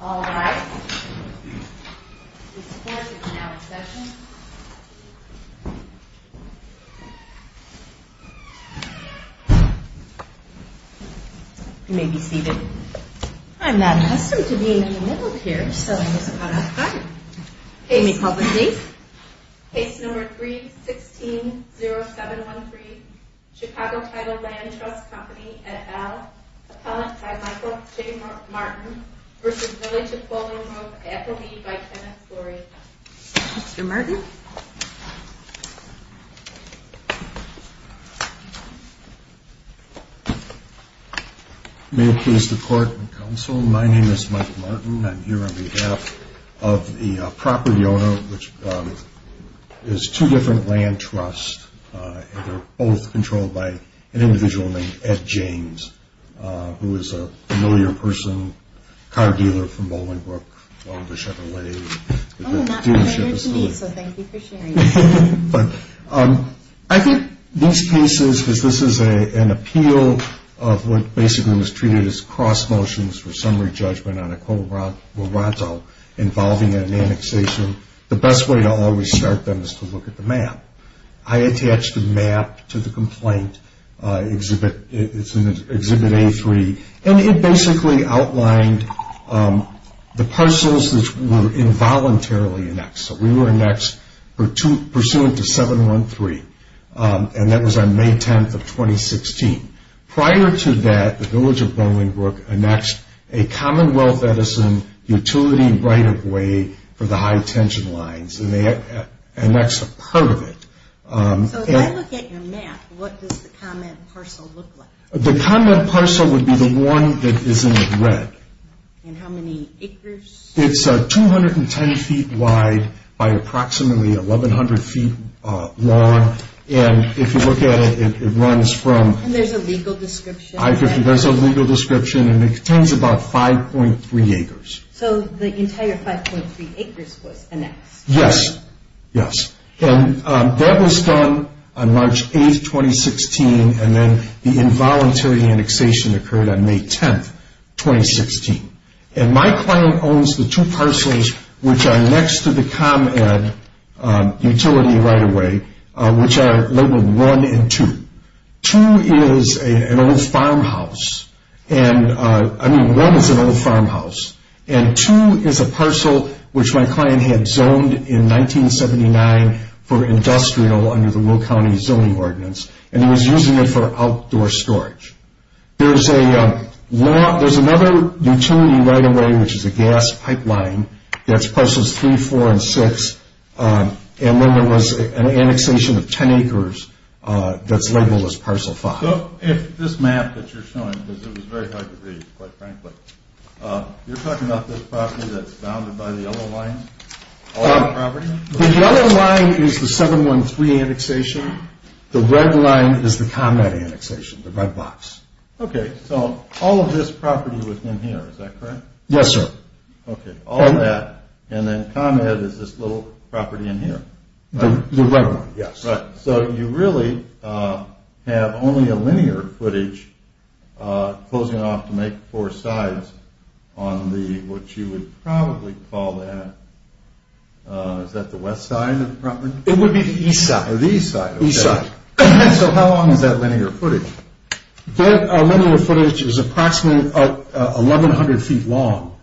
All rise. This court is now in session. You may be seated. I'm not accustomed to being in the middle here, so I'm just about out of time. You may call the case. Case number 3-16-0713. Chicago Title Land Trust Company et al. Appellant by Michael J. Martin v. Village of Bolingbrook. Appellee by Kenneth Flory. Mr. Martin. May it please the Court and Counsel, my name is Michael Martin. I'm here on behalf of the property owner, which is two different land trusts, and they're both controlled by an individual named Ed James, who is a familiar person, car dealer from Bolingbrook, one of the Chevrolet dealership facilities. Oh, not familiar to me, so thank you for sharing. I think these cases, because this is an appeal of what basically was treated as cross motions for summary judgment on a collateral involving an annexation, the best way to always start them is to look at the map. I attached a map to the complaint. It's in Exhibit A3, and it basically outlined the parcels that were involuntarily annexed. So we were annexed pursuant to 713, and that was on May 10th of 2016. Prior to that, the Village of Bolingbrook annexed a Commonwealth Edison utility right-of-way for the high-tension lines, and they annexed a part of it. So if I look at your map, what does the comment parcel look like? The comment parcel would be the one that is in red. And how many acres? It's 210 feet wide by approximately 1,100 feet long, and if you look at it, it runs from And there's a legal description? There's a legal description, and it contains about 5.3 acres. So the entire 5.3 acres was annexed? Yes, yes. And that was done on March 8th, 2016, and then the involuntary annexation occurred on May 10th, 2016. And my client owns the two parcels which are next to the ComEd utility right-of-way, which are labeled 1 and 2. 2 is an old farmhouse. I mean, 1 is an old farmhouse, and 2 is a parcel which my client had zoned in 1979 for industrial under the Will County Zoning Ordinance, and he was using it for outdoor storage. There's another utility right-of-way, which is a gas pipeline, that's parcels 3, 4, and 6, and then there was an annexation of 10 acres that's labeled as parcel 5. So if this map that you're showing, because it was very hard to read, quite frankly, you're talking about this property that's bounded by the yellow line? The yellow line is the 713 annexation. The red line is the ComEd annexation, the red box. Okay, so all of this property was in here, is that correct? Yes, sir. Okay, all of that, and then ComEd is this little property in here. The red one, yes. So you really have only a linear footage closing off to make four sides on the, what you would probably call that, is that the west side of the property? It would be the east side. The east side, okay. So how long is that linear footage? That linear footage is approximately 1,100 feet long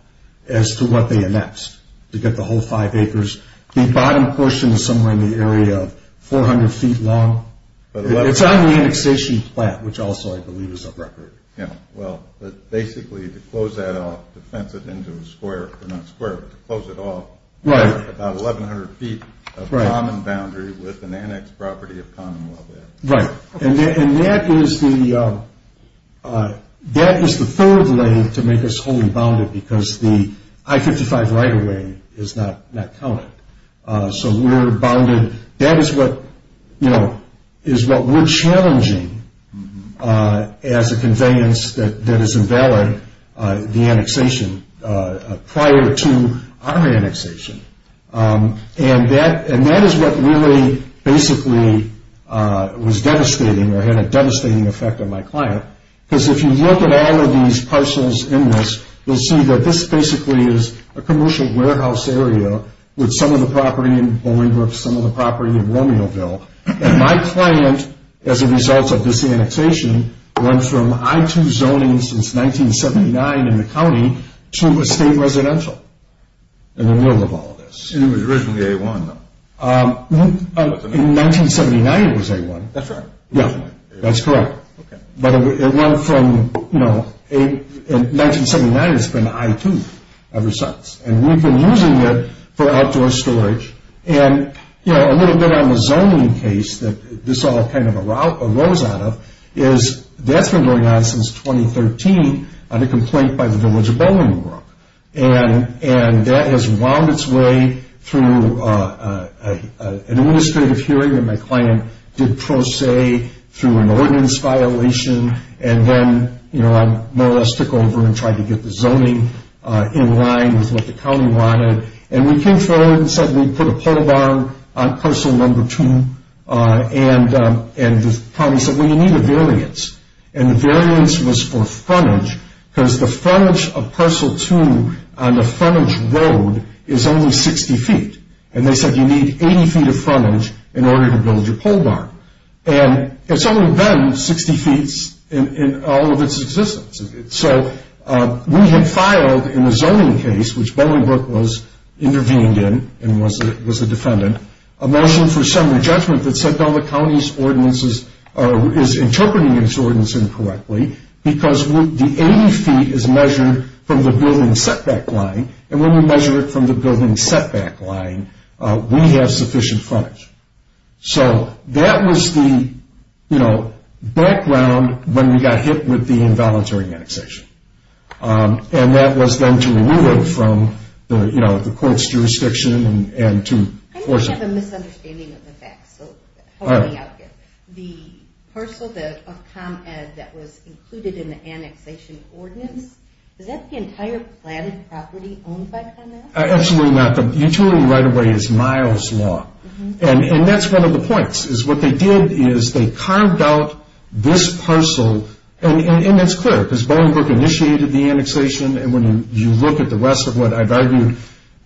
as to what they annexed to get the whole 5 acres. The bottom portion is somewhere in the area of 400 feet long. It's on the annexation plan, which also I believe is a record. Yeah, well, basically to close that off, to fence it into a square, or not square, but to close it off, about 1,100 feet of common boundary with an annexed property of Commonwealth. Right, and that is the third lane to make us wholly bounded because the I-55 right-of-way is not counted. So we're bounded. That is what we're challenging as a conveyance that is invalid, the annexation prior to our annexation. And that is what really basically was devastating or had a devastating effect on my client because if you look at all of these parcels in this, you'll see that this basically is a commercial warehouse area with some of the property in Bolingbroke, some of the property in Romeoville. And my client, as a result of this annexation, went from I-2 zoning since 1979 in the county to a state residential in the middle of all of this. It was originally A-1, though. In 1979 it was A-1. That's right. Yeah, that's correct. But it went from, you know, in 1979 it's been I-2 ever since. And we've been using it for outdoor storage. And, you know, a little bit on the zoning case that this all kind of arose out of is that's been going on since 2013 on a complaint by the village of Bolingbroke. And that has wound its way through an administrative hearing that my client did pro se through an ordinance violation. And then, you know, I more or less took over and tried to get the zoning in line with what the county wanted. And we came forward and said we'd put a pole barn on parcel number 2. And the county said, well, you need a variance. And the variance was for frontage because the frontage of parcel 2 on the frontage road is only 60 feet. And they said you need 80 feet of frontage in order to build your pole barn. And it's only been 60 feet in all of its existence. So we had filed in the zoning case, which Bolingbroke was intervened in and was a defendant, a motion for summary judgment that said, no, the county's ordinance is interpreting its ordinance incorrectly because the 80 feet is measured from the building setback line. And when we measure it from the building setback line, we have sufficient frontage. So that was the background when we got hit with the involuntary annexation. And that was then to remove it from the court's jurisdiction and to force it. I think you have a misunderstanding of the facts. So help me out here. The parcel of ComEd that was included in the annexation ordinance, is that the entire planted property owned by ComEd? Absolutely not. The utility right of way is Miles Law. And that's one of the points is what they did is they carved out this parcel. And it's clear because Bolingbroke initiated the annexation. And when you look at the rest of what I've argued,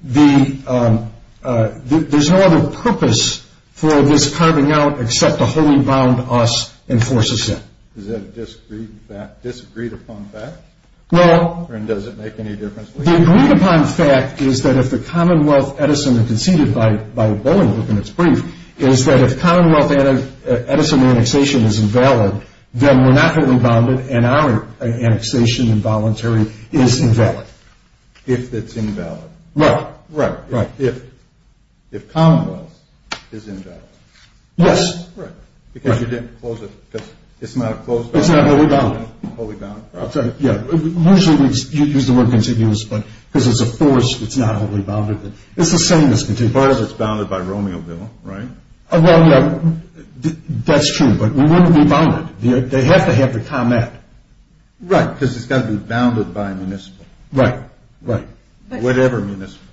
there's no other purpose for this carving out except to wholly bound us and force us in. Is that a disagreed upon fact? Or does it make any difference? The agreed upon fact is that if the Commonwealth Edison and conceded by Bolingbroke in its brief, is that if Commonwealth Edison annexation is invalid, then we're not wholly bounded and our annexation involuntary is invalid. If it's invalid. Right. Right. If Commonwealth is invalid. Yes. Right. Because you didn't close it. Because it's not a closed bond. It's not wholly bounded. Wholly bound. I'm sorry. Yeah. Usually we use the word contiguous, but because it's a force it's not wholly bounded. It's the same as contiguous. As far as it's bounded by Romeo Bill, right? That's true, but we wouldn't be bounded. They have to have the comment. Right. Because it's got to be bounded by municipal. Right. Right. Whatever municipal.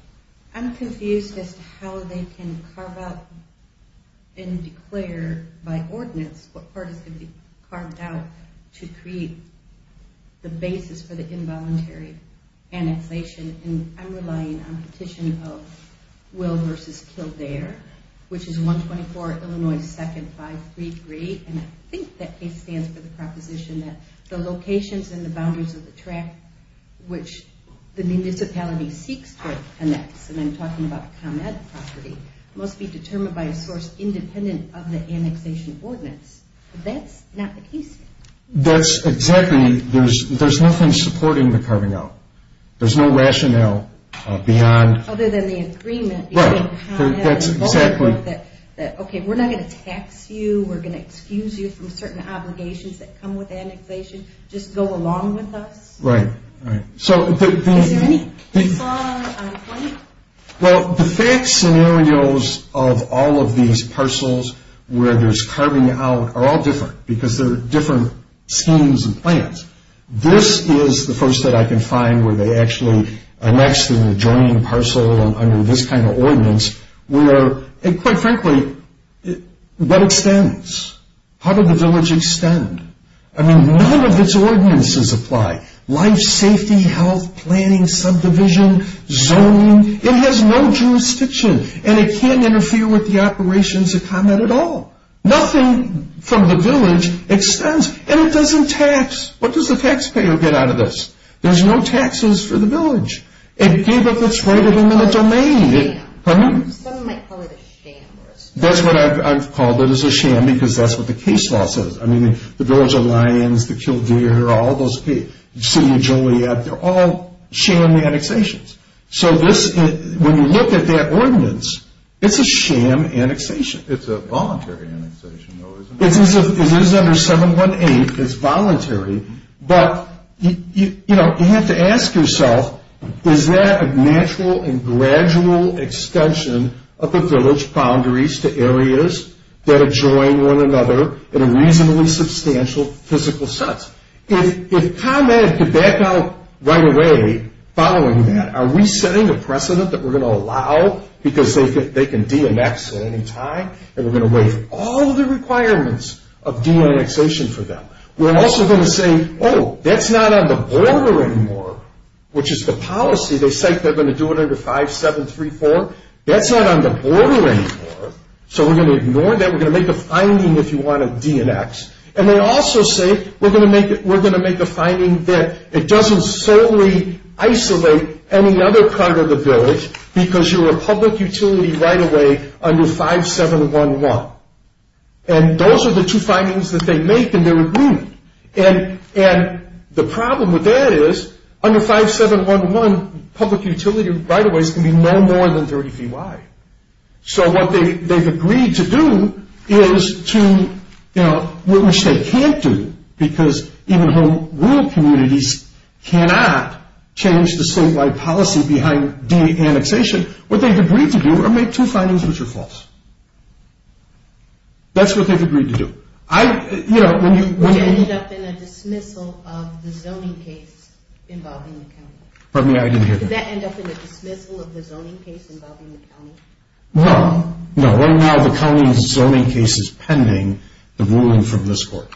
I'm confused as to how they can carve out and declare by ordinance what part is going to be carved out to create the basis for the involuntary annexation. I'm relying on the petition of Will versus Kildare, which is 124 Illinois 2nd 533, and I think that case stands for the proposition that the locations and the boundaries of the track which the municipality seeks to annex, and I'm talking about the ComEd property, must be determined by a source independent of the annexation ordinance. That's not the case here. That's exactly. There's nothing supporting the carving out. There's no rationale beyond. Other than the agreement. Right. That's exactly. Okay, we're not going to tax you. We're going to excuse you from certain obligations that come with annexation. Just go along with us. Right. Right. Is there any default on planning? Well, the fact scenarios of all of these parcels where there's carving out are all different because they're different schemes and plans. This is the first that I can find where they actually annex the adjoining parcel under this kind of ordinance where, quite frankly, what extends? How did the village extend? I mean, none of its ordinances apply. Life safety, health, planning, subdivision, zoning, it has no jurisdiction, and it can't interfere with the operations of ComEd at all. Nothing from the village extends, and it doesn't tax. What does the taxpayer get out of this? There's no taxes for the village. It gave up its right of domain. Pardon me? Someone might call it a sham. That's what I've called it is a sham because that's what the case law says. I mean, the village of Lyons, the Kildare, all those, City of Joliet, they're all sham annexations. So when you look at that ordinance, it's a sham annexation. It's a voluntary annexation, though, isn't it? It is under 718. It's voluntary. But, you know, you have to ask yourself, is that a natural and gradual extension of the village boundaries to areas that adjoin one another in a reasonably substantial physical sense? If ComEd could back out right away following that, are we setting a precedent that we're going to allow because they can DMX at any time, and we're going to waive all the requirements of DMXation for them? We're also going to say, oh, that's not on the border anymore, which is the policy. They say they're going to do it under 5734. That's not on the border anymore, so we're going to ignore that. We're going to make a finding if you want to DMX. And they also say we're going to make a finding that it doesn't solely isolate any other part of the village because you're a public utility right-of-way under 5711. And those are the two findings that they make, and they're agreed. And the problem with that is under 5711, public utility right-of-ways can be no more than 30 feet wide. So what they've agreed to do is to, you know, which they can't do because even home rule communities cannot change the statewide policy behind DMXation. What they've agreed to do are make two findings which are false. That's what they've agreed to do. I, you know, when you... Which ended up in a dismissal of the zoning case involving the county. Pardon me, I didn't hear that. Did that end up in a dismissal of the zoning case involving the county? No. No, right now the county zoning case is pending the ruling from this court.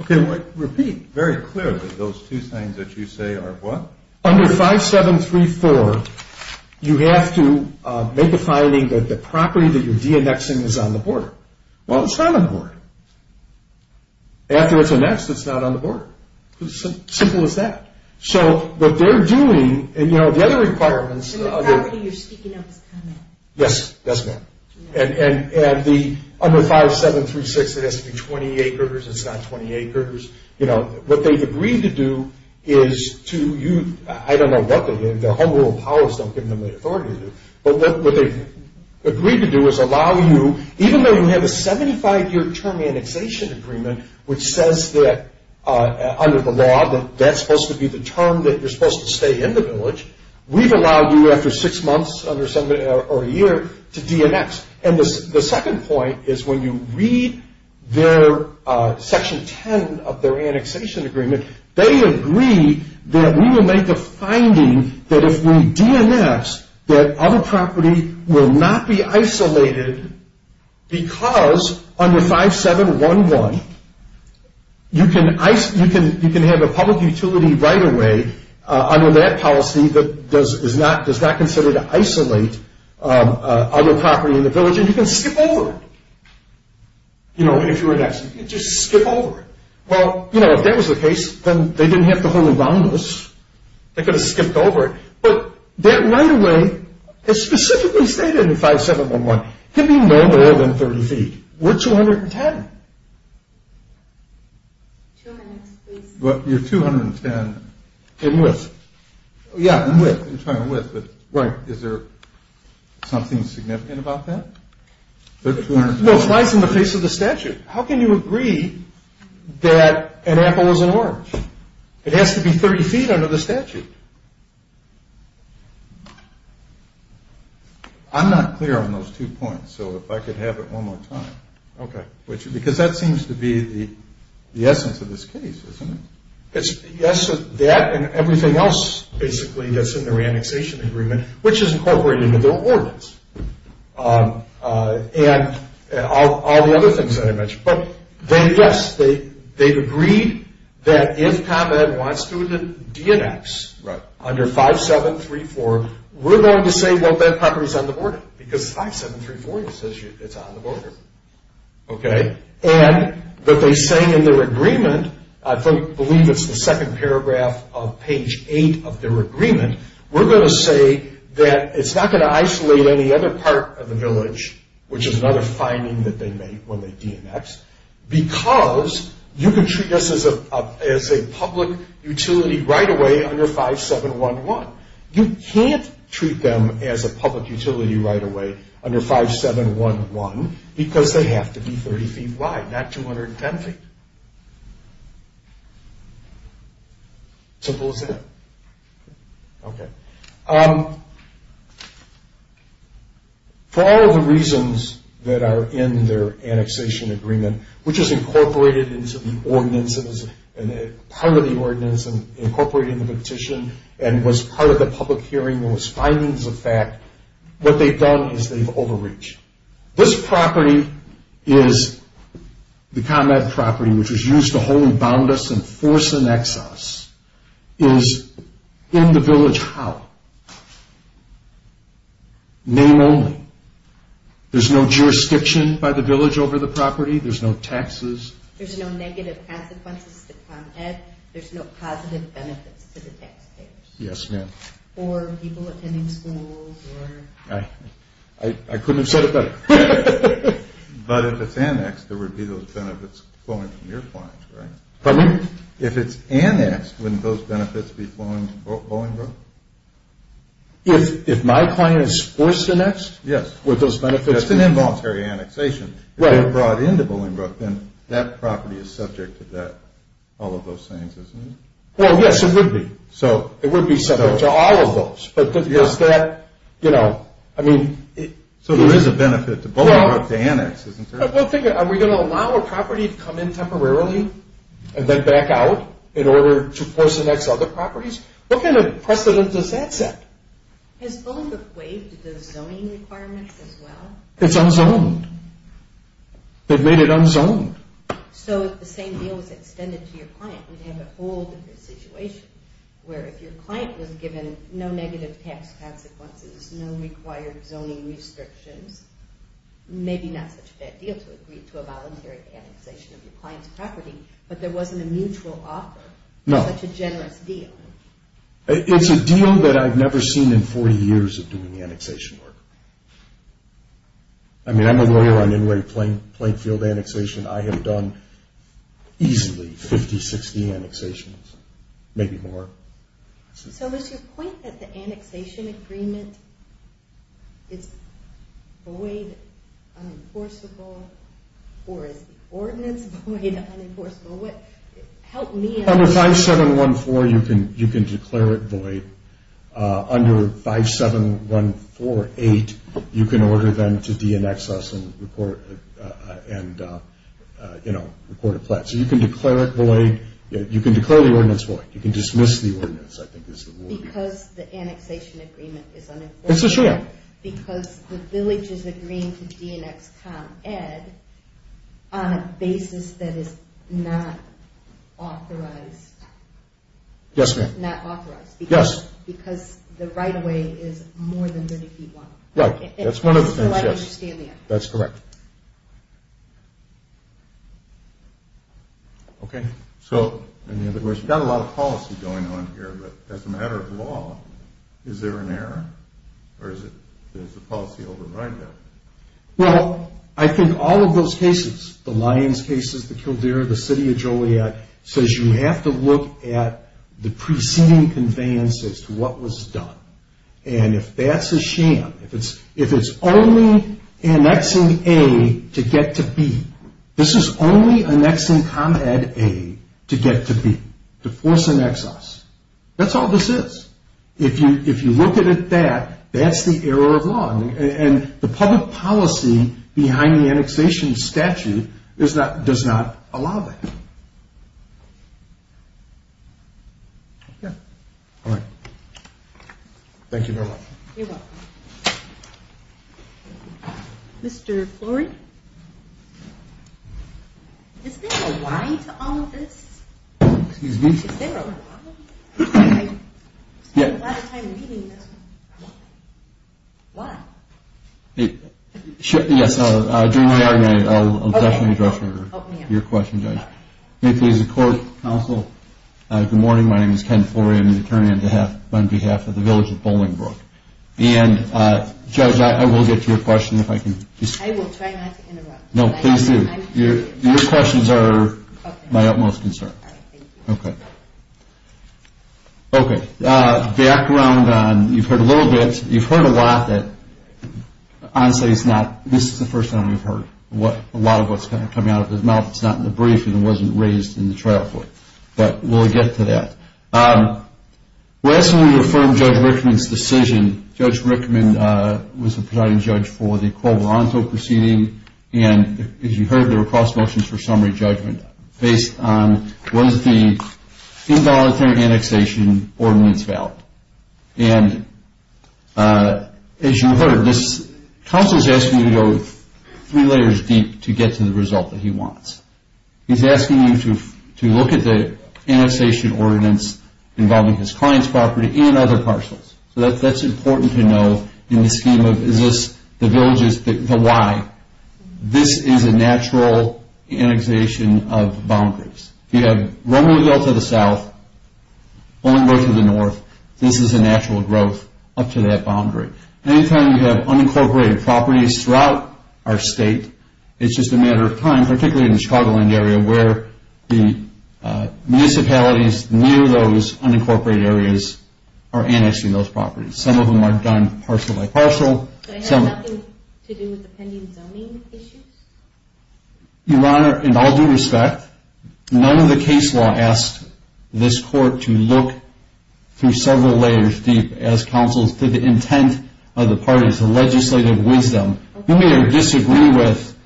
Okay, repeat very clearly those two things that you say are what? Under 5734, you have to make a finding that the property that you're DMXing is on the border. Well, it's not on the border. After it's DMXed, it's not on the border. Simple as that. So what they're doing, and you know, the other requirements... And the property you're speaking of is coming. Yes, that's right. And under 5736, it has to be 20 acres. It's not 20 acres. You know, what they've agreed to do is to you... I don't know what they did. Their home rule of powers don't give them the authority to do it. But what they've agreed to do is allow you... Even though you have a 75-year term annexation agreement which says that under the law that that's supposed to be the term that you're supposed to stay in the village, we've allowed you after six months or a year to DMX. And the second point is when you read their Section 10 of their annexation agreement, they agree that we will make a finding that if we DMX, that other property will not be isolated because under 5711, you can have a public utility right-of-way under that policy that does not consider to isolate other property in the village, and you can skip over it. You know, if you were to just skip over it. Well, you know, if that was the case, then they didn't have to hold me boundless. They could have skipped over it. But that right-of-way is specifically stated in 5711. It can be no more than 30 feet. We're 210. Two minutes, please. You're 210 in width. Yeah, in width. Is there something significant about that? No, it's nice in the face of the statute. How can you agree that an apple is an orange? It has to be 30 feet under the statute. I'm not clear on those two points, so if I could have it one more time. Okay. Because that seems to be the essence of this case, doesn't it? Yes, that and everything else, basically, that's in the reannexation agreement, which is incorporated into the ordinance, and all the other things that I mentioned. But, yes, they've agreed that if ComEd wants to reannex under 5734, we're going to say, well, that property's on the border, because 5734 says it's on the border, okay? And that they say in their agreement, I believe it's the second paragraph of page 8 of their agreement, we're going to say that it's not going to isolate any other part of the village, which is another finding that they make when they reannex, because you can treat this as a public utility right away under 5711. You can't treat them as a public utility right away under 5711, because they have to be 30 feet wide, not 210 feet. Simple as that. Okay. For all the reasons that are in their annexation agreement, which is incorporated into the ordinance and is part of the ordinance and incorporated in the petition and was part of the public hearing, there was findings of fact, what they've done is they've overreached. This property is the ComEd property, which was used to hold and bound us and force an exiles, is in the village how? Name only. There's no jurisdiction by the village over the property. There's no taxes. There's no negative consequences to ComEd. There's no positive benefits to the taxpayers. Yes, ma'am. Or people attending schools. I couldn't have said it better. But if it's annexed, there would be those benefits flowing from your clients, right? Pardon me? If it's annexed, wouldn't those benefits be flowing to Bolingbroke? If my client is forced to annex? Yes. Would those benefits be? That's an involuntary annexation. Right. If they're brought into Bolingbroke, then that property is subject to that, all of those things, isn't it? Well, yes, it would be. It would be subject to all of those. But does that, you know, I mean. So there is a benefit to Bolingbroke to annex, isn't there? Are we going to allow a property to come in temporarily and then back out in order to force annex other properties? What kind of precedent does that set? Has Bolingbroke waived the zoning requirements as well? It's unzoned. They've made it unzoned. So if the same deal was extended to your client, we'd have a whole different situation, where if your client was given no negative tax consequences, no required zoning restrictions, maybe not such a bad deal to agree to a voluntary annexation of your client's property, but there wasn't a mutual offer. No. Such a generous deal. It's a deal that I've never seen in 40 years of doing annexation work. I mean, I'm a lawyer on Inway Plainfield annexation. I have done easily 50, 60 annexations, maybe more. So is your point that the annexation agreement is void, unenforceable, or is the ordinance void, unenforceable? Help me understand. Under 5714, you can declare it void. Under 57148, you can order them to de-annex us and report a pledge. So you can declare it void. You can declare the ordinance void. You can dismiss the ordinance, I think, is the rule. Because the annexation agreement is unenforceable. It's a sham. Because the village is agreeing to de-annex ComEd on a basis that is not authorized. Yes, ma'am. Yes. Because the right-of-way is more than 30 feet long. Right. That's one of the things, yes. So I understand that. That's correct. Okay. So, you've got a lot of policy going on here, but as a matter of law, is there an error? Or does the policy override that? Well, I think all of those cases, the Lyons cases, the Kildare, the City of Joliet, says you have to look at the preceding conveyance as to what was done. And if that's a sham, if it's only annexing A to get to B, this is only annexing ComEd A to get to B, to force annex us. That's all this is. If you look at it that, that's the error of law. And the public policy behind the annexation statute does not allow that. Okay. All right. Thank you very much. You're welcome. Mr. Flory? Is there a why to all of this? Excuse me? Is there a why? I spent a lot of time reading this. Why? Yes. During the argument, I'll definitely address your question, Judge. May it please the Court, Counsel, good morning. My name is Ken Flory. I'm the attorney on behalf of the Village of Bolingbrook. And, Judge, I will get to your question if I can. I will try not to interrupt. No, please do. Your questions are my utmost concern. All right. Thank you. Okay. Okay. Background on, you've heard a little bit, you've heard a lot that, honestly, it's not, this is the first time we've heard a lot of what's kind of coming out of his mouth. It's not in the brief and it wasn't raised in the trial court. But we'll get to that. Last time we referred Judge Rickman's decision, Judge Rickman was the presiding judge for the Covalanto proceeding. And, as you heard, there were cross motions for summary judgment based on, was the involuntary annexation ordinance valid. And, as you heard, this counsel is asking you to go three layers deep to get to the result that he wants. He's asking you to look at the annexation ordinance involving his client's property and other parcels. So that's important to know in the scheme of is this the village's, the why. This is a natural annexation of boundaries. You have one way to go to the south, one way to the north. This is a natural growth up to that boundary. Any time you have unincorporated properties throughout our state, it's just a matter of time, particularly in the Chicagoland area where the municipalities near those unincorporated areas are annexing those properties. Some of them are done parcel by parcel. Did it have nothing to do with the pending zoning issues? Your Honor, in all due respect, none of the case law asked this court to look through several layers deep as counsels to the intent of the parties, the legislative wisdom. You may disagree with,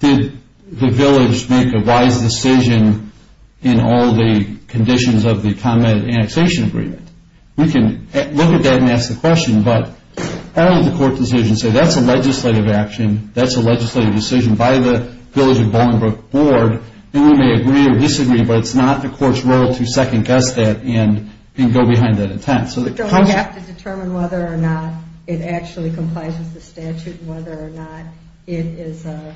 did the village make a wise decision in all the conditions of the convent annexation agreement? We can look at that and ask the question, but all of the court decisions say that's a legislative action, that's a legislative decision by the Village of Bolingbroke Board, and we may agree or disagree, but it's not the court's role to second-guess that and go behind that intent. So we have to determine whether or not it actually complies with the statute and whether or not it is a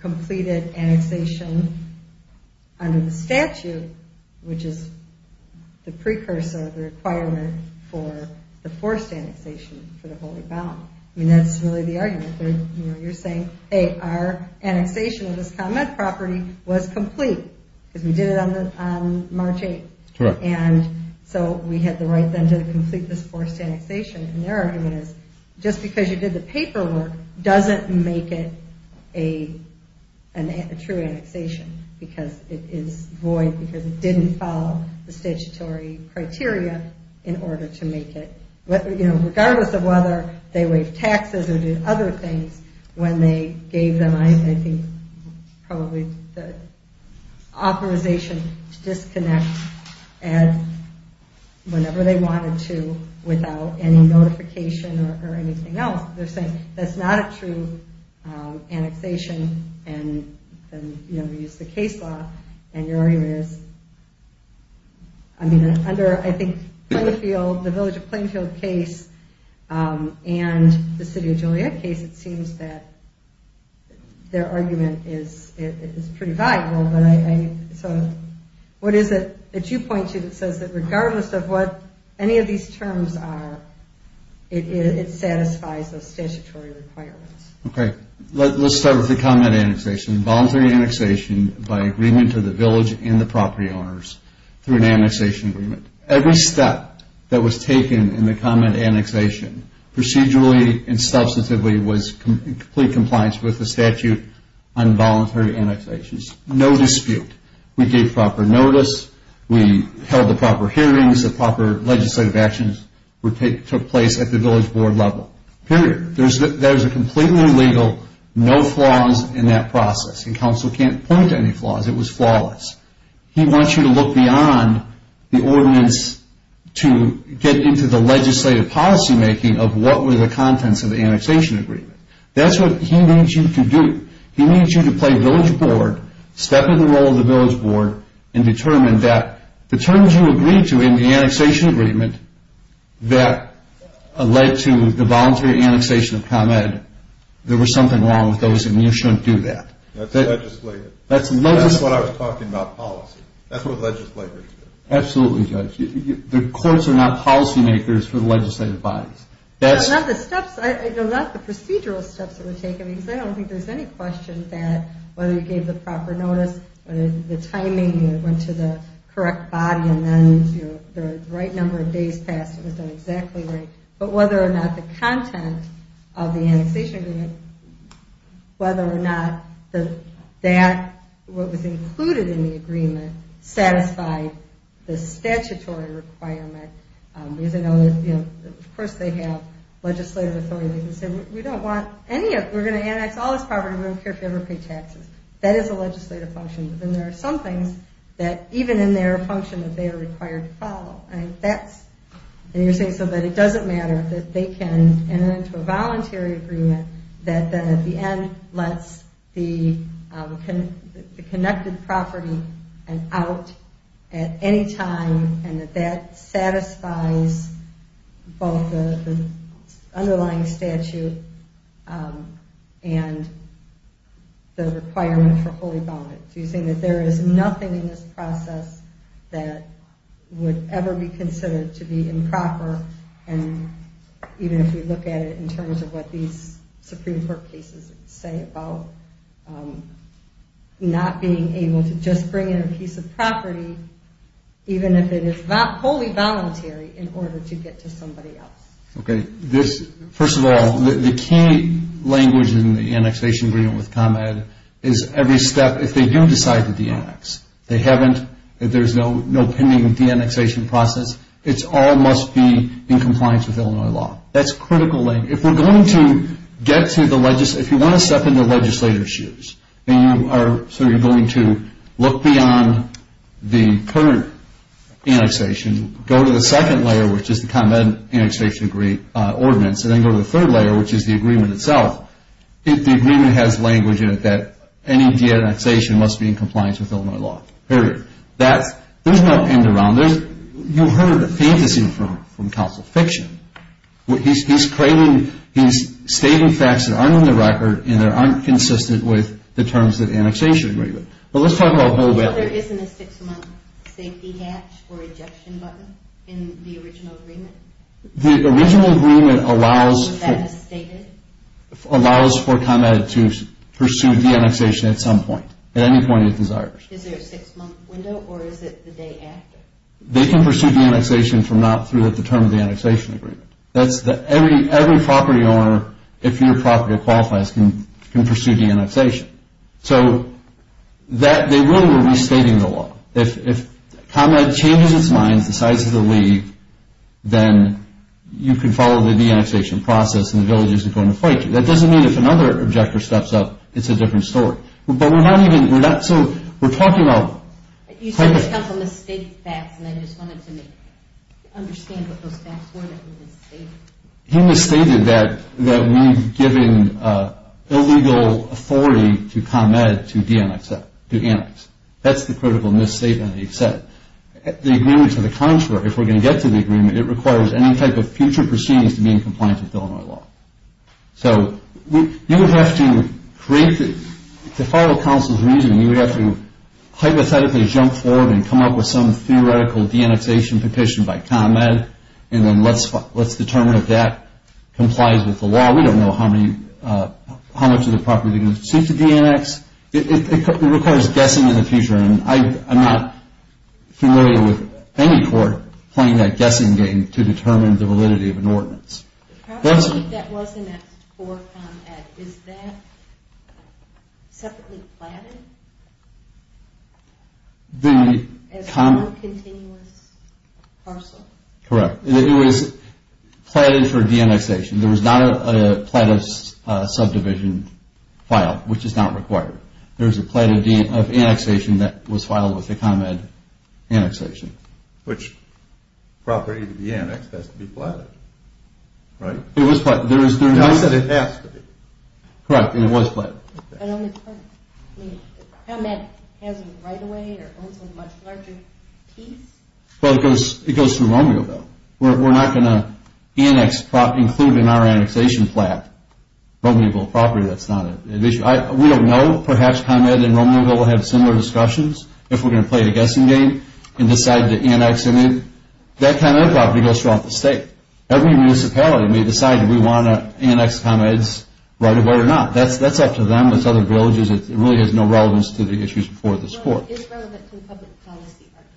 completed annexation under the statute, which is the precursor of the requirement for the forced annexation for the Holy Bound. I mean, that's really the argument. You're saying, hey, our annexation of this convent property was complete because we did it on March 8th, and so we had the right then to complete this forced annexation, and their argument is just because you did the paperwork doesn't make it a true annexation because it is void because it didn't follow the statutory criteria in order to make it, regardless of whether they waived taxes or did other things when they gave them, I think, probably the authorization to disconnect whenever they wanted to without any notification or anything else. They're saying that's not a true annexation, and then we use the case law, and your argument is, I mean, under, I think, the Village of Plainfield case and the City of Joliet case, it seems that their argument is pretty valuable. So what is it that you point to that says that regardless of what any of these terms are, it satisfies those statutory requirements? Okay, let's start with the convent annexation. by agreement to the village and the property owners through an annexation agreement. Every step that was taken in the convent annexation procedurally and substantively was in complete compliance with the statute on voluntary annexations. No dispute. We gave proper notice. We held the proper hearings. The proper legislative actions took place at the village board level, period. There's a completely legal, no flaws in that process, and counsel can't point to any flaws. It was flawless. He wants you to look beyond the ordinance to get into the legislative policymaking of what were the contents of the annexation agreement. That's what he needs you to do. He needs you to play village board, step in the role of the village board, and determine that the terms you agreed to in the annexation agreement that led to the voluntary annexation of Con Ed, there was something wrong with those and you shouldn't do that. That's legislative. That's legislative. That's what I was talking about, policy. That's what legislators do. Absolutely, Judge. The courts are not policymakers for the legislative bodies. Not the steps, not the procedural steps that were taken, because I don't think there's any question that whether you gave the proper notice, whether the timing went to the correct body, and then the right number of days passed, it was done exactly right. But whether or not the content of the annexation agreement, whether or not what was included in the agreement satisfied the statutory requirement. Of course, they have legislative authority. They can say, we don't want any of it. We're going to annex all this property. We don't care if you ever pay taxes. That is a legislative function. But then there are some things that even in their function that they are required to follow. And you're saying so that it doesn't matter that they can enter into a voluntary agreement that then at the end lets the connected property out at any time and that that satisfies both the underlying statute and the requirement for holy bondage. You're saying that there is nothing in this process that would ever be considered to be improper, and even if you look at it in terms of what these Supreme Court cases say about not being able to just bring in a piece of property, even if it is wholly voluntary in order to get to somebody else. Okay. First of all, the key language in the annexation agreement with ComEd is every step, if they do decide to de-annex, if they haven't, if there's no pending de-annexation process, it all must be in compliance with Illinois law. That's critical language. If we're going to get to the legislature, if you want to step in the legislator's shoes, and you are sort of going to look beyond the current annexation, go to the second layer, which is the ComEd annexation ordinance, and then go to the third layer, which is the agreement itself, the agreement has language in it that any de-annexation must be in compliance with Illinois law. Period. There's no end around this. You heard the fantasy from counsel fiction. He's creating, he's stating facts that aren't on the record and that aren't consistent with the terms of the annexation agreement. But let's talk about how that works. So there isn't a six-month safety catch or ejection button in the original agreement? The original agreement allows for ComEd to pursue de-annexation at some point, at any point it desires. Is there a six-month window, or is it the day after? They can pursue de-annexation from not through the terms of the annexation agreement. Every property owner, if you're a property that qualifies, can pursue de-annexation. So they really were restating the law. If ComEd changes its mind, decides to leave, then you can follow the de-annexation process and the villagers are going to fight you. That doesn't mean if another objector steps up, it's a different story. We're talking about... You said there's a couple of misstated facts, and I just wanted to understand what those facts were that were misstated. He misstated that we've given illegal authority to ComEd to de-annex. That's the critical misstatement that he said. The agreement to the contrary, if we're going to get to the agreement, it requires any type of future proceedings to be in compliance with Illinois law. So you would have to create... To follow counsel's reasoning, you would have to hypothetically jump forward and come up with some theoretical de-annexation petition by ComEd, and then let's determine if that complies with the law. We don't know how much of the property is going to seek to de-annex. It requires guessing in the future, and I'm not familiar with any court playing that guessing game to determine the validity of an ordinance. The property that was annexed for ComEd, is that separately platted as one continuous parcel? Correct. It was platted for de-annexation. There was not a platted subdivision file, which is not required. There was a platted annexation that was filed with the ComEd annexation. Which property to be annexed has to be platted, right? It was platted. I said it has to be. Correct, and it was platted. ComEd has a right-of-way or owns a much larger piece? Well, it goes through Romeoville. We're not going to include in our annexation plat Romeoville property. That's not an issue. We don't know. Perhaps ComEd and Romeoville will have similar discussions if we're going to play the guessing game and decide to annex. That kind of property goes throughout the state. Every municipality may decide if we want to annex ComEd's right-of-way or not. That's up to them. It's other villages. It really has no relevance to the issues before this court. Is it relevant to the public policy argument?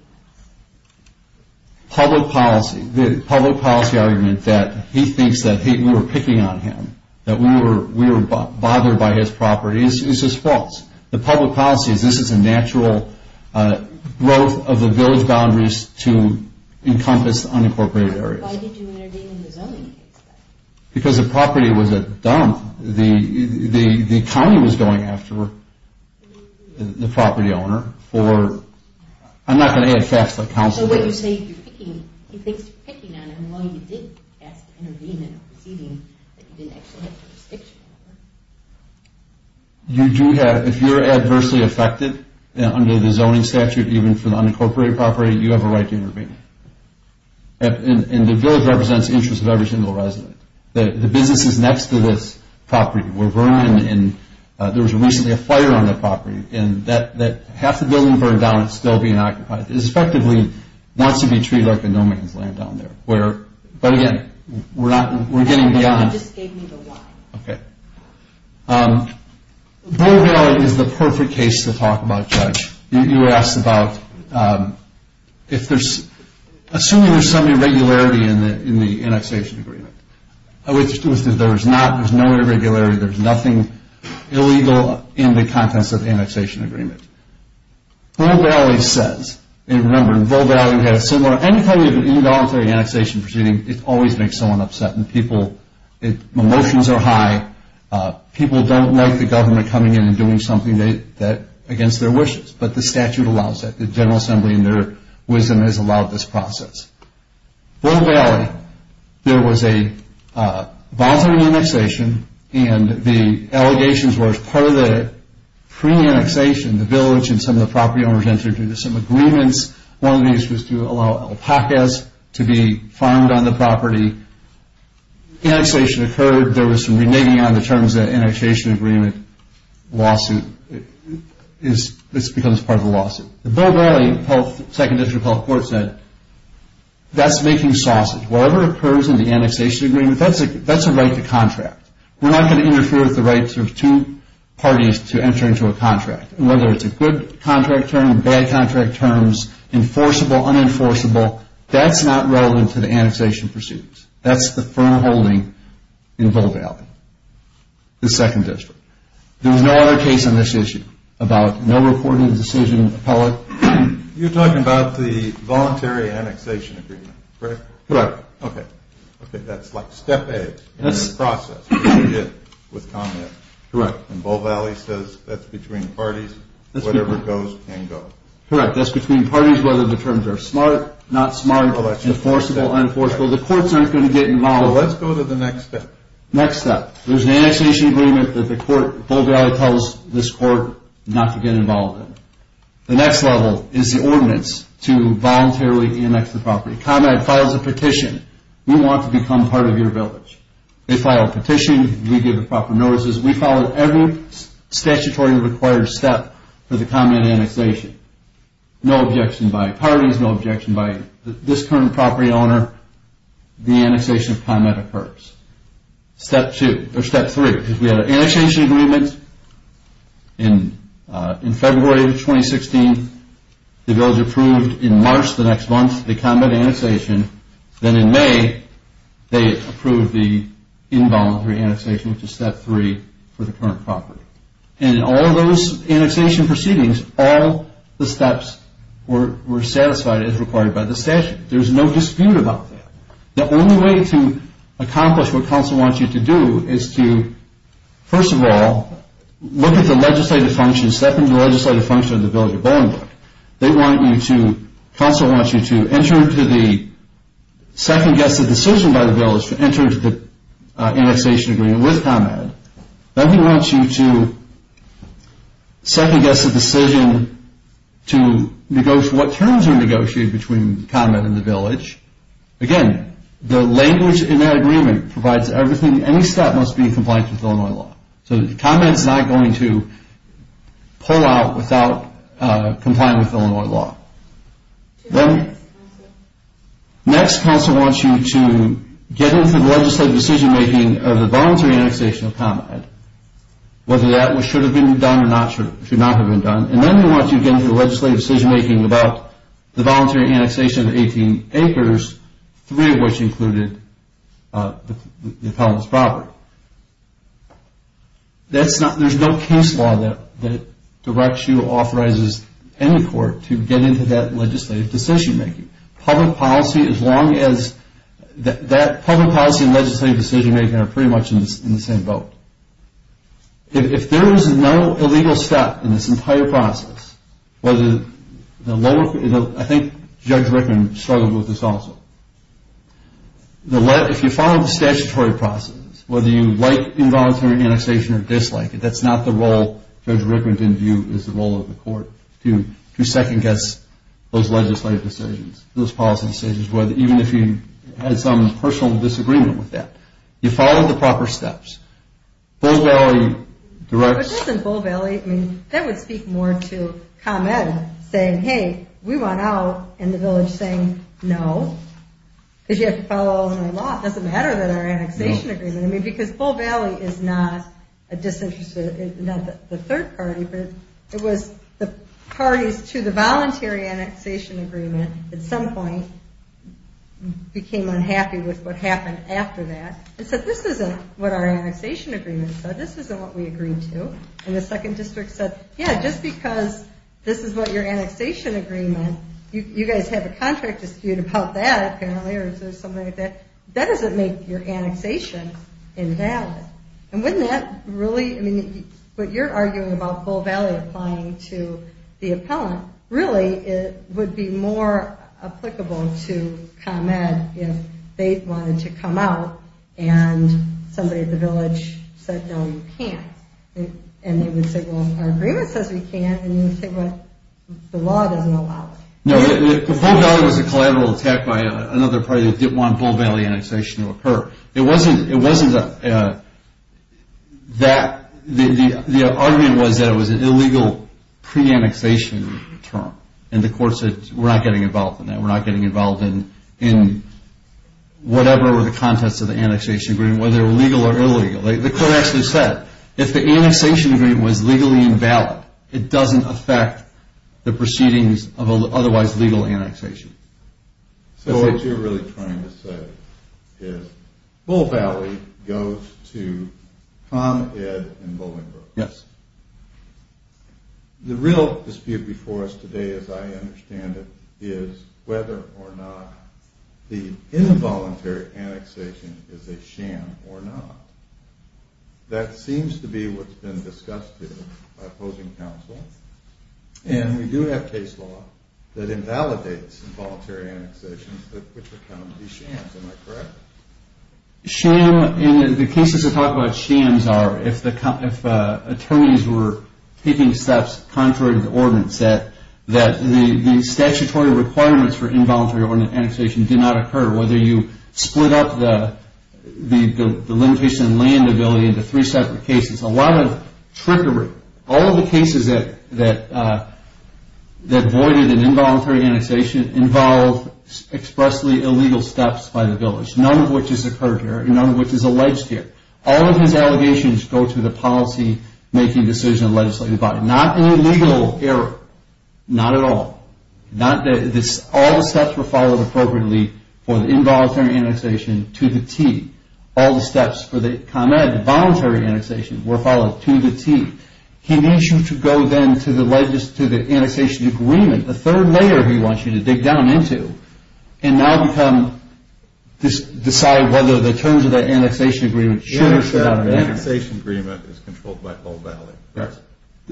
Public policy. The public policy argument that he thinks that we were picking on him, that we were bothered by his property, is just false. The public policy is this is a natural growth of the village boundaries to encompass unincorporated areas. Why did you intervene in the zoning case, then? Because the property was a dump. The county was going after the property owner for, I'm not going to add facts like council. So what you say you're picking, he thinks you're picking on him while you did ask to intervene in a proceeding that you didn't actually have jurisdiction over. You do have, if you're adversely affected under the zoning statute, even for the unincorporated property, you have a right to intervene. And the village represents the interest of every single resident. The businesses next to this property were burned, and there was recently a fire on that property, and half the building burned down. It's still being occupied. It effectively wants to be treated like a no-man's land down there. But again, we're getting beyond. You just gave me the why. Okay. Vol Valley is the perfect case to talk about, Judge. You asked about if there's, assuming there's some irregularity in the annexation agreement. There's no irregularity. There's nothing illegal in the contents of the annexation agreement. Vol Valley says, and remember, Vol Valley had a similar, any time you have an involuntary annexation proceeding, it always makes someone upset, and people, emotions are high. People don't like the government coming in and doing something against their wishes, but the statute allows that. The General Assembly, in their wisdom, has allowed this process. Vol Valley, there was a voluntary annexation, and the allegations were, as part of the pre-annexation, the village and some of the property owners entered into some agreements. One of these was to allow alpacas to be farmed on the property. The annexation occurred. There was some reneging on the terms of the annexation agreement lawsuit. This becomes part of the lawsuit. The Vol Valley Second District Health Court said, that's making sausage. Whatever occurs in the annexation agreement, that's a right to contract. We're not going to interfere with the rights of two parties to enter into a contract, whether it's a good contract term, bad contract terms, enforceable, unenforceable, that's not relevant to the annexation proceedings. That's the firm holding in Vol Valley, the Second District. There was no other case on this issue about no reported decision, appellate. You're talking about the voluntary annexation agreement, correct? Correct. Okay. Okay, that's like step A in this process. That's what you did with Congress. Correct. And Vol Valley says that's between parties. Whatever goes, can go. Correct. That's between parties, whether the terms are smart, not smart, enforceable, unenforceable. The courts aren't going to get involved. Let's go to the next step. Next step. There's an annexation agreement that Vol Valley tells this court not to get involved in. The next level is the ordinance to voluntarily annex the property. ComEd files a petition. We want to become part of your village. They file a petition. We give the proper notices. We follow every statutory required step for the ComEd annexation. No objection by parties. No objection by this current property owner. The annexation of ComEd occurs. Step two, or step three, because we had an annexation agreement in February of 2016. The village approved in March the next month the ComEd annexation. Then in May, they approved the involuntary annexation, which is step three, for the current property. And in all those annexation proceedings, all the steps were satisfied as required by the statute. There's no dispute about that. The only way to accomplish what counsel wants you to do is to, first of all, look at the legislative function, step into the legislative function of the village of Bowling Brook. Counsel wants you to enter into the second-guessed decision by the village to enter into the annexation agreement with ComEd. Then he wants you to second-guess the decision to negotiate what terms are negotiated between ComEd and the village. Again, the language in that agreement provides everything. Any step must be in compliance with Illinois law. So ComEd is not going to pull out without complying with Illinois law. Then next, counsel wants you to get into the legislative decision-making of the voluntary annexation of ComEd, whether that should have been done or should not have been done. And then they want you to get into the legislative decision-making about the voluntary annexation of 18 acres, three of which included the appellant's property. There's no case law that directs you or authorizes any court to get into that legislative decision-making. Public policy and legislative decision-making are pretty much in the same boat. If there is no illegal step in this entire process, I think Judge Rickman struggled with this also. If you follow the statutory process, whether you like involuntary annexation or dislike it, that's not the role Judge Rickman didn't view as the role of the court to second-guess those legislative decisions, those policy decisions, even if you had some personal disagreement with that. You follow the proper steps. Bull Valley directs... But doesn't Bull Valley, I mean, that would speak more to ComEd saying, hey, we want out, and the village saying no, because you have to follow Illinois law. It doesn't matter that our annexation agreement, I mean, because Bull Valley is not a disinterested, not the third party, but it was the parties to the voluntary annexation agreement at some point became unhappy with what happened after that and said, this isn't what our annexation agreement said, this isn't what we agreed to. And the second district said, yeah, just because this is what your annexation agreement, you guys have a contract dispute about that apparently or something like that, that doesn't make your annexation invalid. And wouldn't that really, I mean, what you're arguing about Bull Valley applying to the appellant, really it would be more applicable to ComEd if they wanted to come out and somebody at the village said, no, you can't. And they would say, well, our agreement says we can't, and you would say, well, the law doesn't allow it. No, Bull Valley was a collateral attack by another party that didn't want Bull Valley annexation to occur. It wasn't that the argument was that it was an illegal pre-annexation term, and the court said, we're not getting involved in that, we're not getting involved in whatever the context of the annexation agreement, whether legal or illegal. The court actually said, if the annexation agreement was legally invalid, it doesn't affect the proceedings of otherwise legal annexation. So what you're really trying to say is Bull Valley goes to ComEd and Bolingbroke. Yes. The real dispute before us today, as I understand it, is whether or not the involuntary annexation is a sham or not. That seems to be what's been discussed here by opposing counsel, and we do have case law that invalidates involuntary annexation, which would come to be shams. Am I correct? Shams, and the cases that talk about shams are if attorneys were taking steps contrary to the ordinance, that the statutory requirements for involuntary annexation did not occur, whether you split up the limitation on land ability into three separate cases. It's a lot of trickery. All of the cases that voided an involuntary annexation involve expressly illegal steps by the village, none of which has occurred here and none of which is alleged here. All of his allegations go to the policy-making decision of legislative body. Not an illegal error, not at all. All the steps were followed appropriately for the involuntary annexation to the T. All the steps for the voluntary annexation were followed to the T. He needs you to go then to the annexation agreement, the third layer he wants you to dig down into, and now decide whether the terms of that annexation agreement should or should not be there. The annexation agreement is controlled by Full Valley.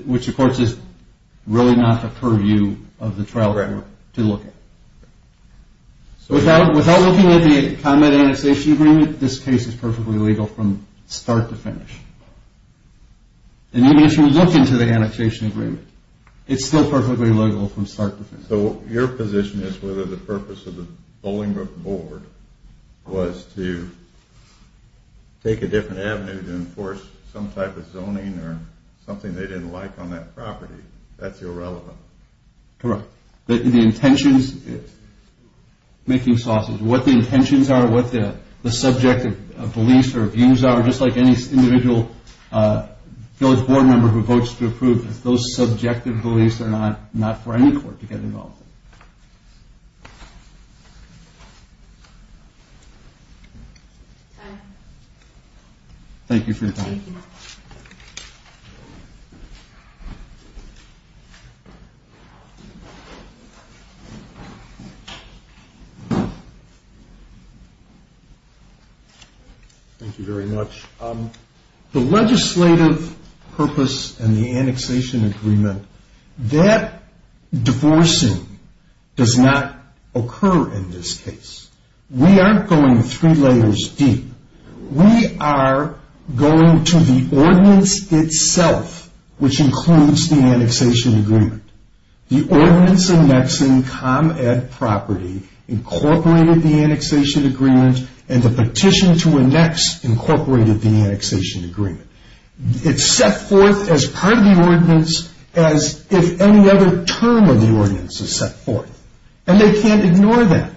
Which, of course, is really not the purview of the trial court to look at. Without looking at the annexation agreement, this case is perfectly legal from start to finish. And even if you look into the annexation agreement, it's still perfectly legal from start to finish. So your position is whether the purpose of the bowling group board was to take a different avenue to enforce some type of zoning or something they didn't like on that property. That's irrelevant. Correct. The intentions, making sauces. What the intentions are, what the subjective beliefs or views are, just like any individual village board member who votes to approve, those subjective beliefs are not for any court to get involved in. Thank you for your time. Thank you. Thank you. Thank you very much. The legislative purpose and the annexation agreement, that divorcing does not occur in this case. We aren't going three layers deep. We are going to the ordinance itself, which includes the annexation agreement. The ordinance annexing ComEd property incorporated the annexation agreement, and the petition to annex incorporated the annexation agreement. It's set forth as part of the ordinance as if any other term of the ordinance is set forth. And they can't ignore that.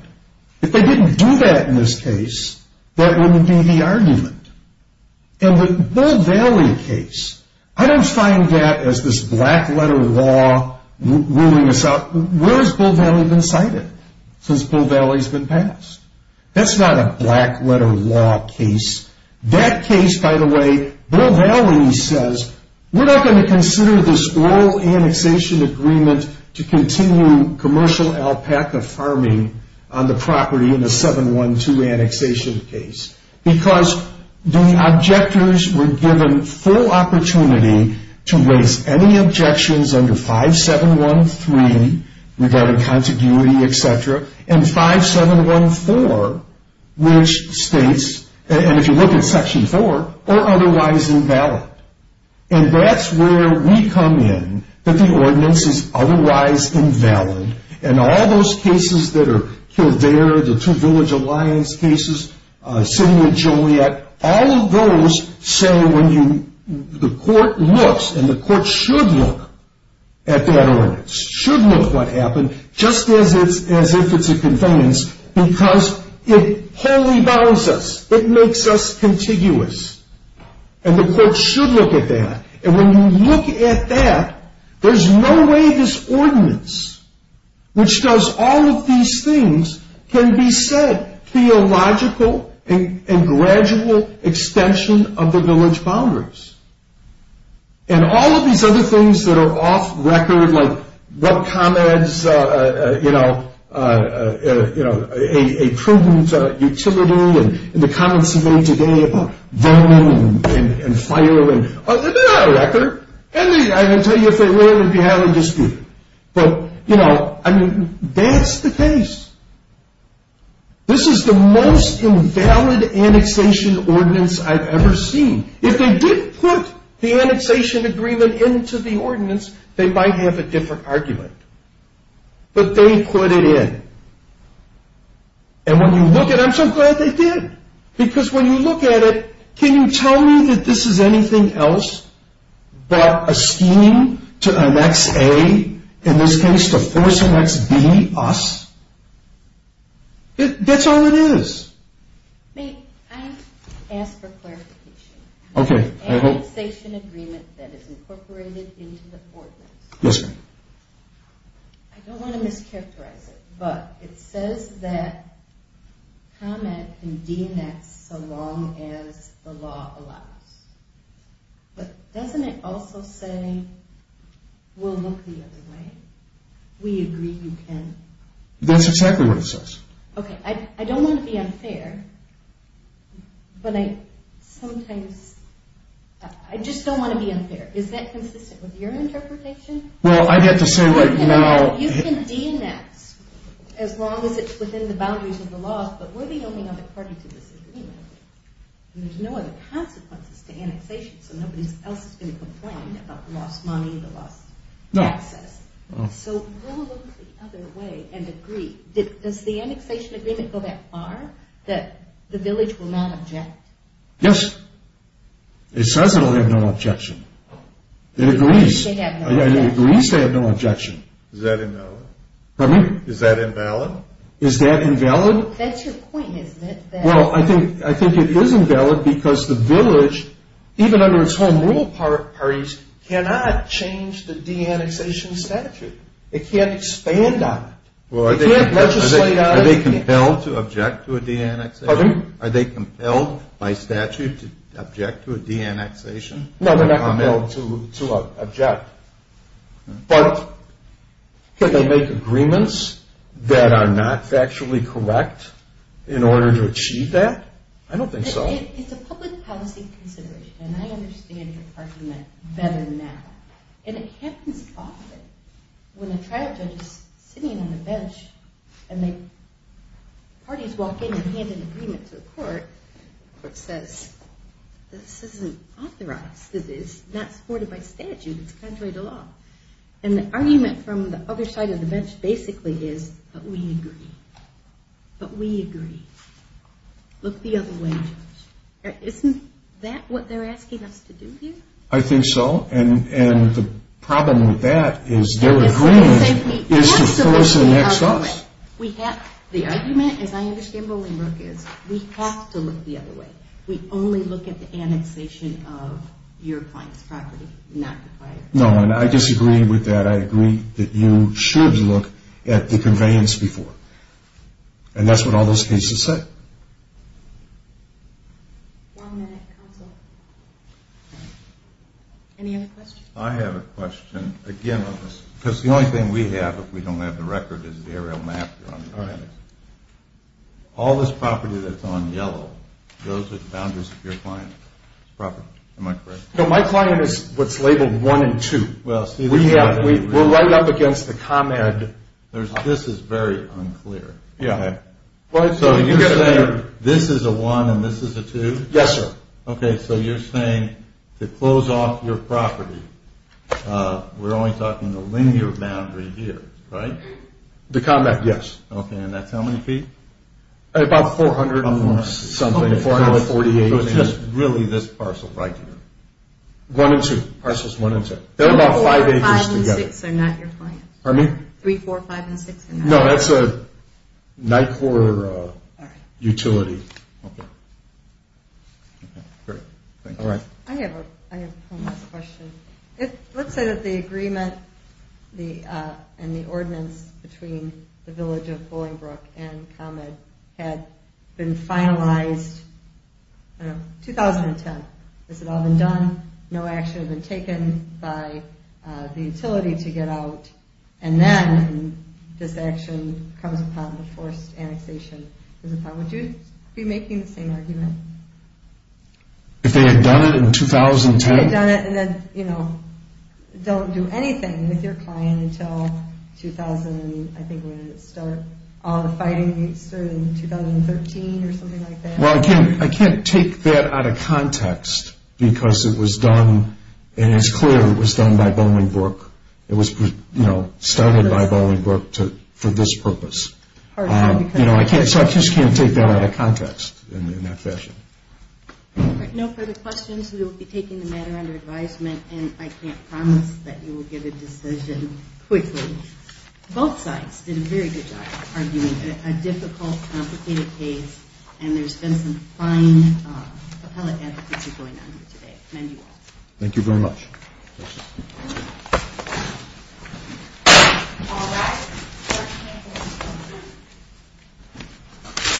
If they didn't do that in this case, that wouldn't be the argument. And the Bull Valley case, I don't find that as this black letter law ruling us out. Where has Bull Valley been cited since Bull Valley has been passed? That's not a black letter law case. That case, by the way, Bull Valley says, We're not going to consider this oral annexation agreement to continue commercial alpaca farming on the property in a 712 annexation case. Because the objectors were given full opportunity to raise any objections under 5713 regarding contiguity, etc. And 5714, which states, and if you look at Section 4, or otherwise invalid. And that's where we come in, that the ordinance is otherwise invalid. And all those cases that are there, the two village alliance cases, sitting with Joliet, all of those say when the court looks, and the court should look at that ordinance, should look at what happened, just as if it's a convenience. Because it wholly bounds us. It makes us contiguous. And the court should look at that. And when you look at that, there's no way this ordinance, which does all of these things, can beset theological and gradual extension of the village boundaries. And all of these other things that are off record, like what comments, you know, a prudent utility, and the comments made today about burning and firing. They're not off record. And I can tell you if they were, we'd be having a dispute. But, you know, I mean, that's the case. This is the most invalid annexation ordinance I've ever seen. If they didn't put the annexation agreement into the ordinance, they might have a different argument. But they put it in. And when you look at it, I'm so glad they did. Because when you look at it, can you tell me that this is anything else but a scheme to annex A, in this case to force annex B, us? That's all it is. May I ask for clarification? Okay. The annexation agreement that is incorporated into the ordinance. Yes, ma'am. I don't want to mischaracterize it, but it says that comment can de-annex so long as the law allows. But doesn't it also say we'll look the other way? We agree you can. That's exactly what it says. Okay. I don't want to be unfair, but I sometimes, I just don't want to be unfair. Is that consistent with your interpretation? Well, I'd have to say right now. You can de-annex as long as it's within the boundaries of the law. But we're the only other party to this agreement. And there's no other consequences to annexation. So nobody else is going to complain about the lost money, the lost access. So we'll look the other way and agree. Does the annexation agreement go that far, that the village will not object? Yes. It says it will have no objection. It agrees. It agrees to have no objection. Is that invalid? Pardon me? Is that invalid? Is that invalid? That's your point, isn't it? Well, I think it is invalid because the village, even under its home rule parties, cannot change the de-annexation statute. It can't expand on it. It can't legislate on it. Are they compelled to object to a de-annexation? Pardon? Are they compelled by statute to object to a de-annexation? No, they're not compelled to object. But could they make agreements that are not factually correct in order to achieve that? I don't think so. It's a public policy consideration, and I understand your argument better now. And it happens often when a tribe judge is sitting on the bench, and the parties walk in and hand an agreement to the court. The court says, this isn't authorized. This is not supported by statute. It's contrary to law. And the argument from the other side of the bench basically is, but we agree. But we agree. Look the other way, Judge. Isn't that what they're asking us to do here? I think so. And the problem with that is their agreement is to first annex us. We have to look the other way. We only look at the annexation of your client's property, not the client's property. No, and I disagree with that. I agree that you should look at the conveyance before. And that's what all those cases say. One minute, counsel. Any other questions? I have a question. Again, because the only thing we have, if we don't have the record, is the aerial map. All this property that's on yellow goes with boundaries of your client's property. Am I correct? No, my client is what's labeled 1 and 2. We'll write it up against the ComEd. This is very unclear. So you're saying this is a 1 and this is a 2? Yes, sir. Okay, so you're saying to close off your property, we're only talking the linear boundary here, right? The ComEd, yes. Okay, and that's how many feet? About 400 and something. So it's just really this parcel right here. 1 and 2. Parcels 1 and 2. They're about 5 acres together. 3, 4, 5, and 6 are not your clients. Pardon me? 3, 4, 5, and 6 are not your clients. No, that's a NICOR utility. Okay. Okay, great. Thank you. All right. I have one last question. Let's say that the agreement and the ordinance between the village of Bolingbrook and ComEd had been finalized, I don't know, 2010. Has it all been done? No action had been taken by the utility to get out? And then this action comes upon the forced annexation. Would you be making the same argument? If they had done it in 2010? If they had done it and then, you know, don't do anything with your client until, I think, when it started, all the fighting started in 2013 or something like that? Well, I can't take that out of context because it was done, and it's clear it was done by Bolingbrook. It was, you know, started by Bolingbrook for this purpose. So I just can't take that out of context in that fashion. All right. No further questions. We will be taking the matter under advisement, and I can't promise that you will get a decision quickly. Both sides did a very good job arguing a difficult, complicated case, and there's been some fine appellate advocacy going on here today. Thank you all. Thank you very much.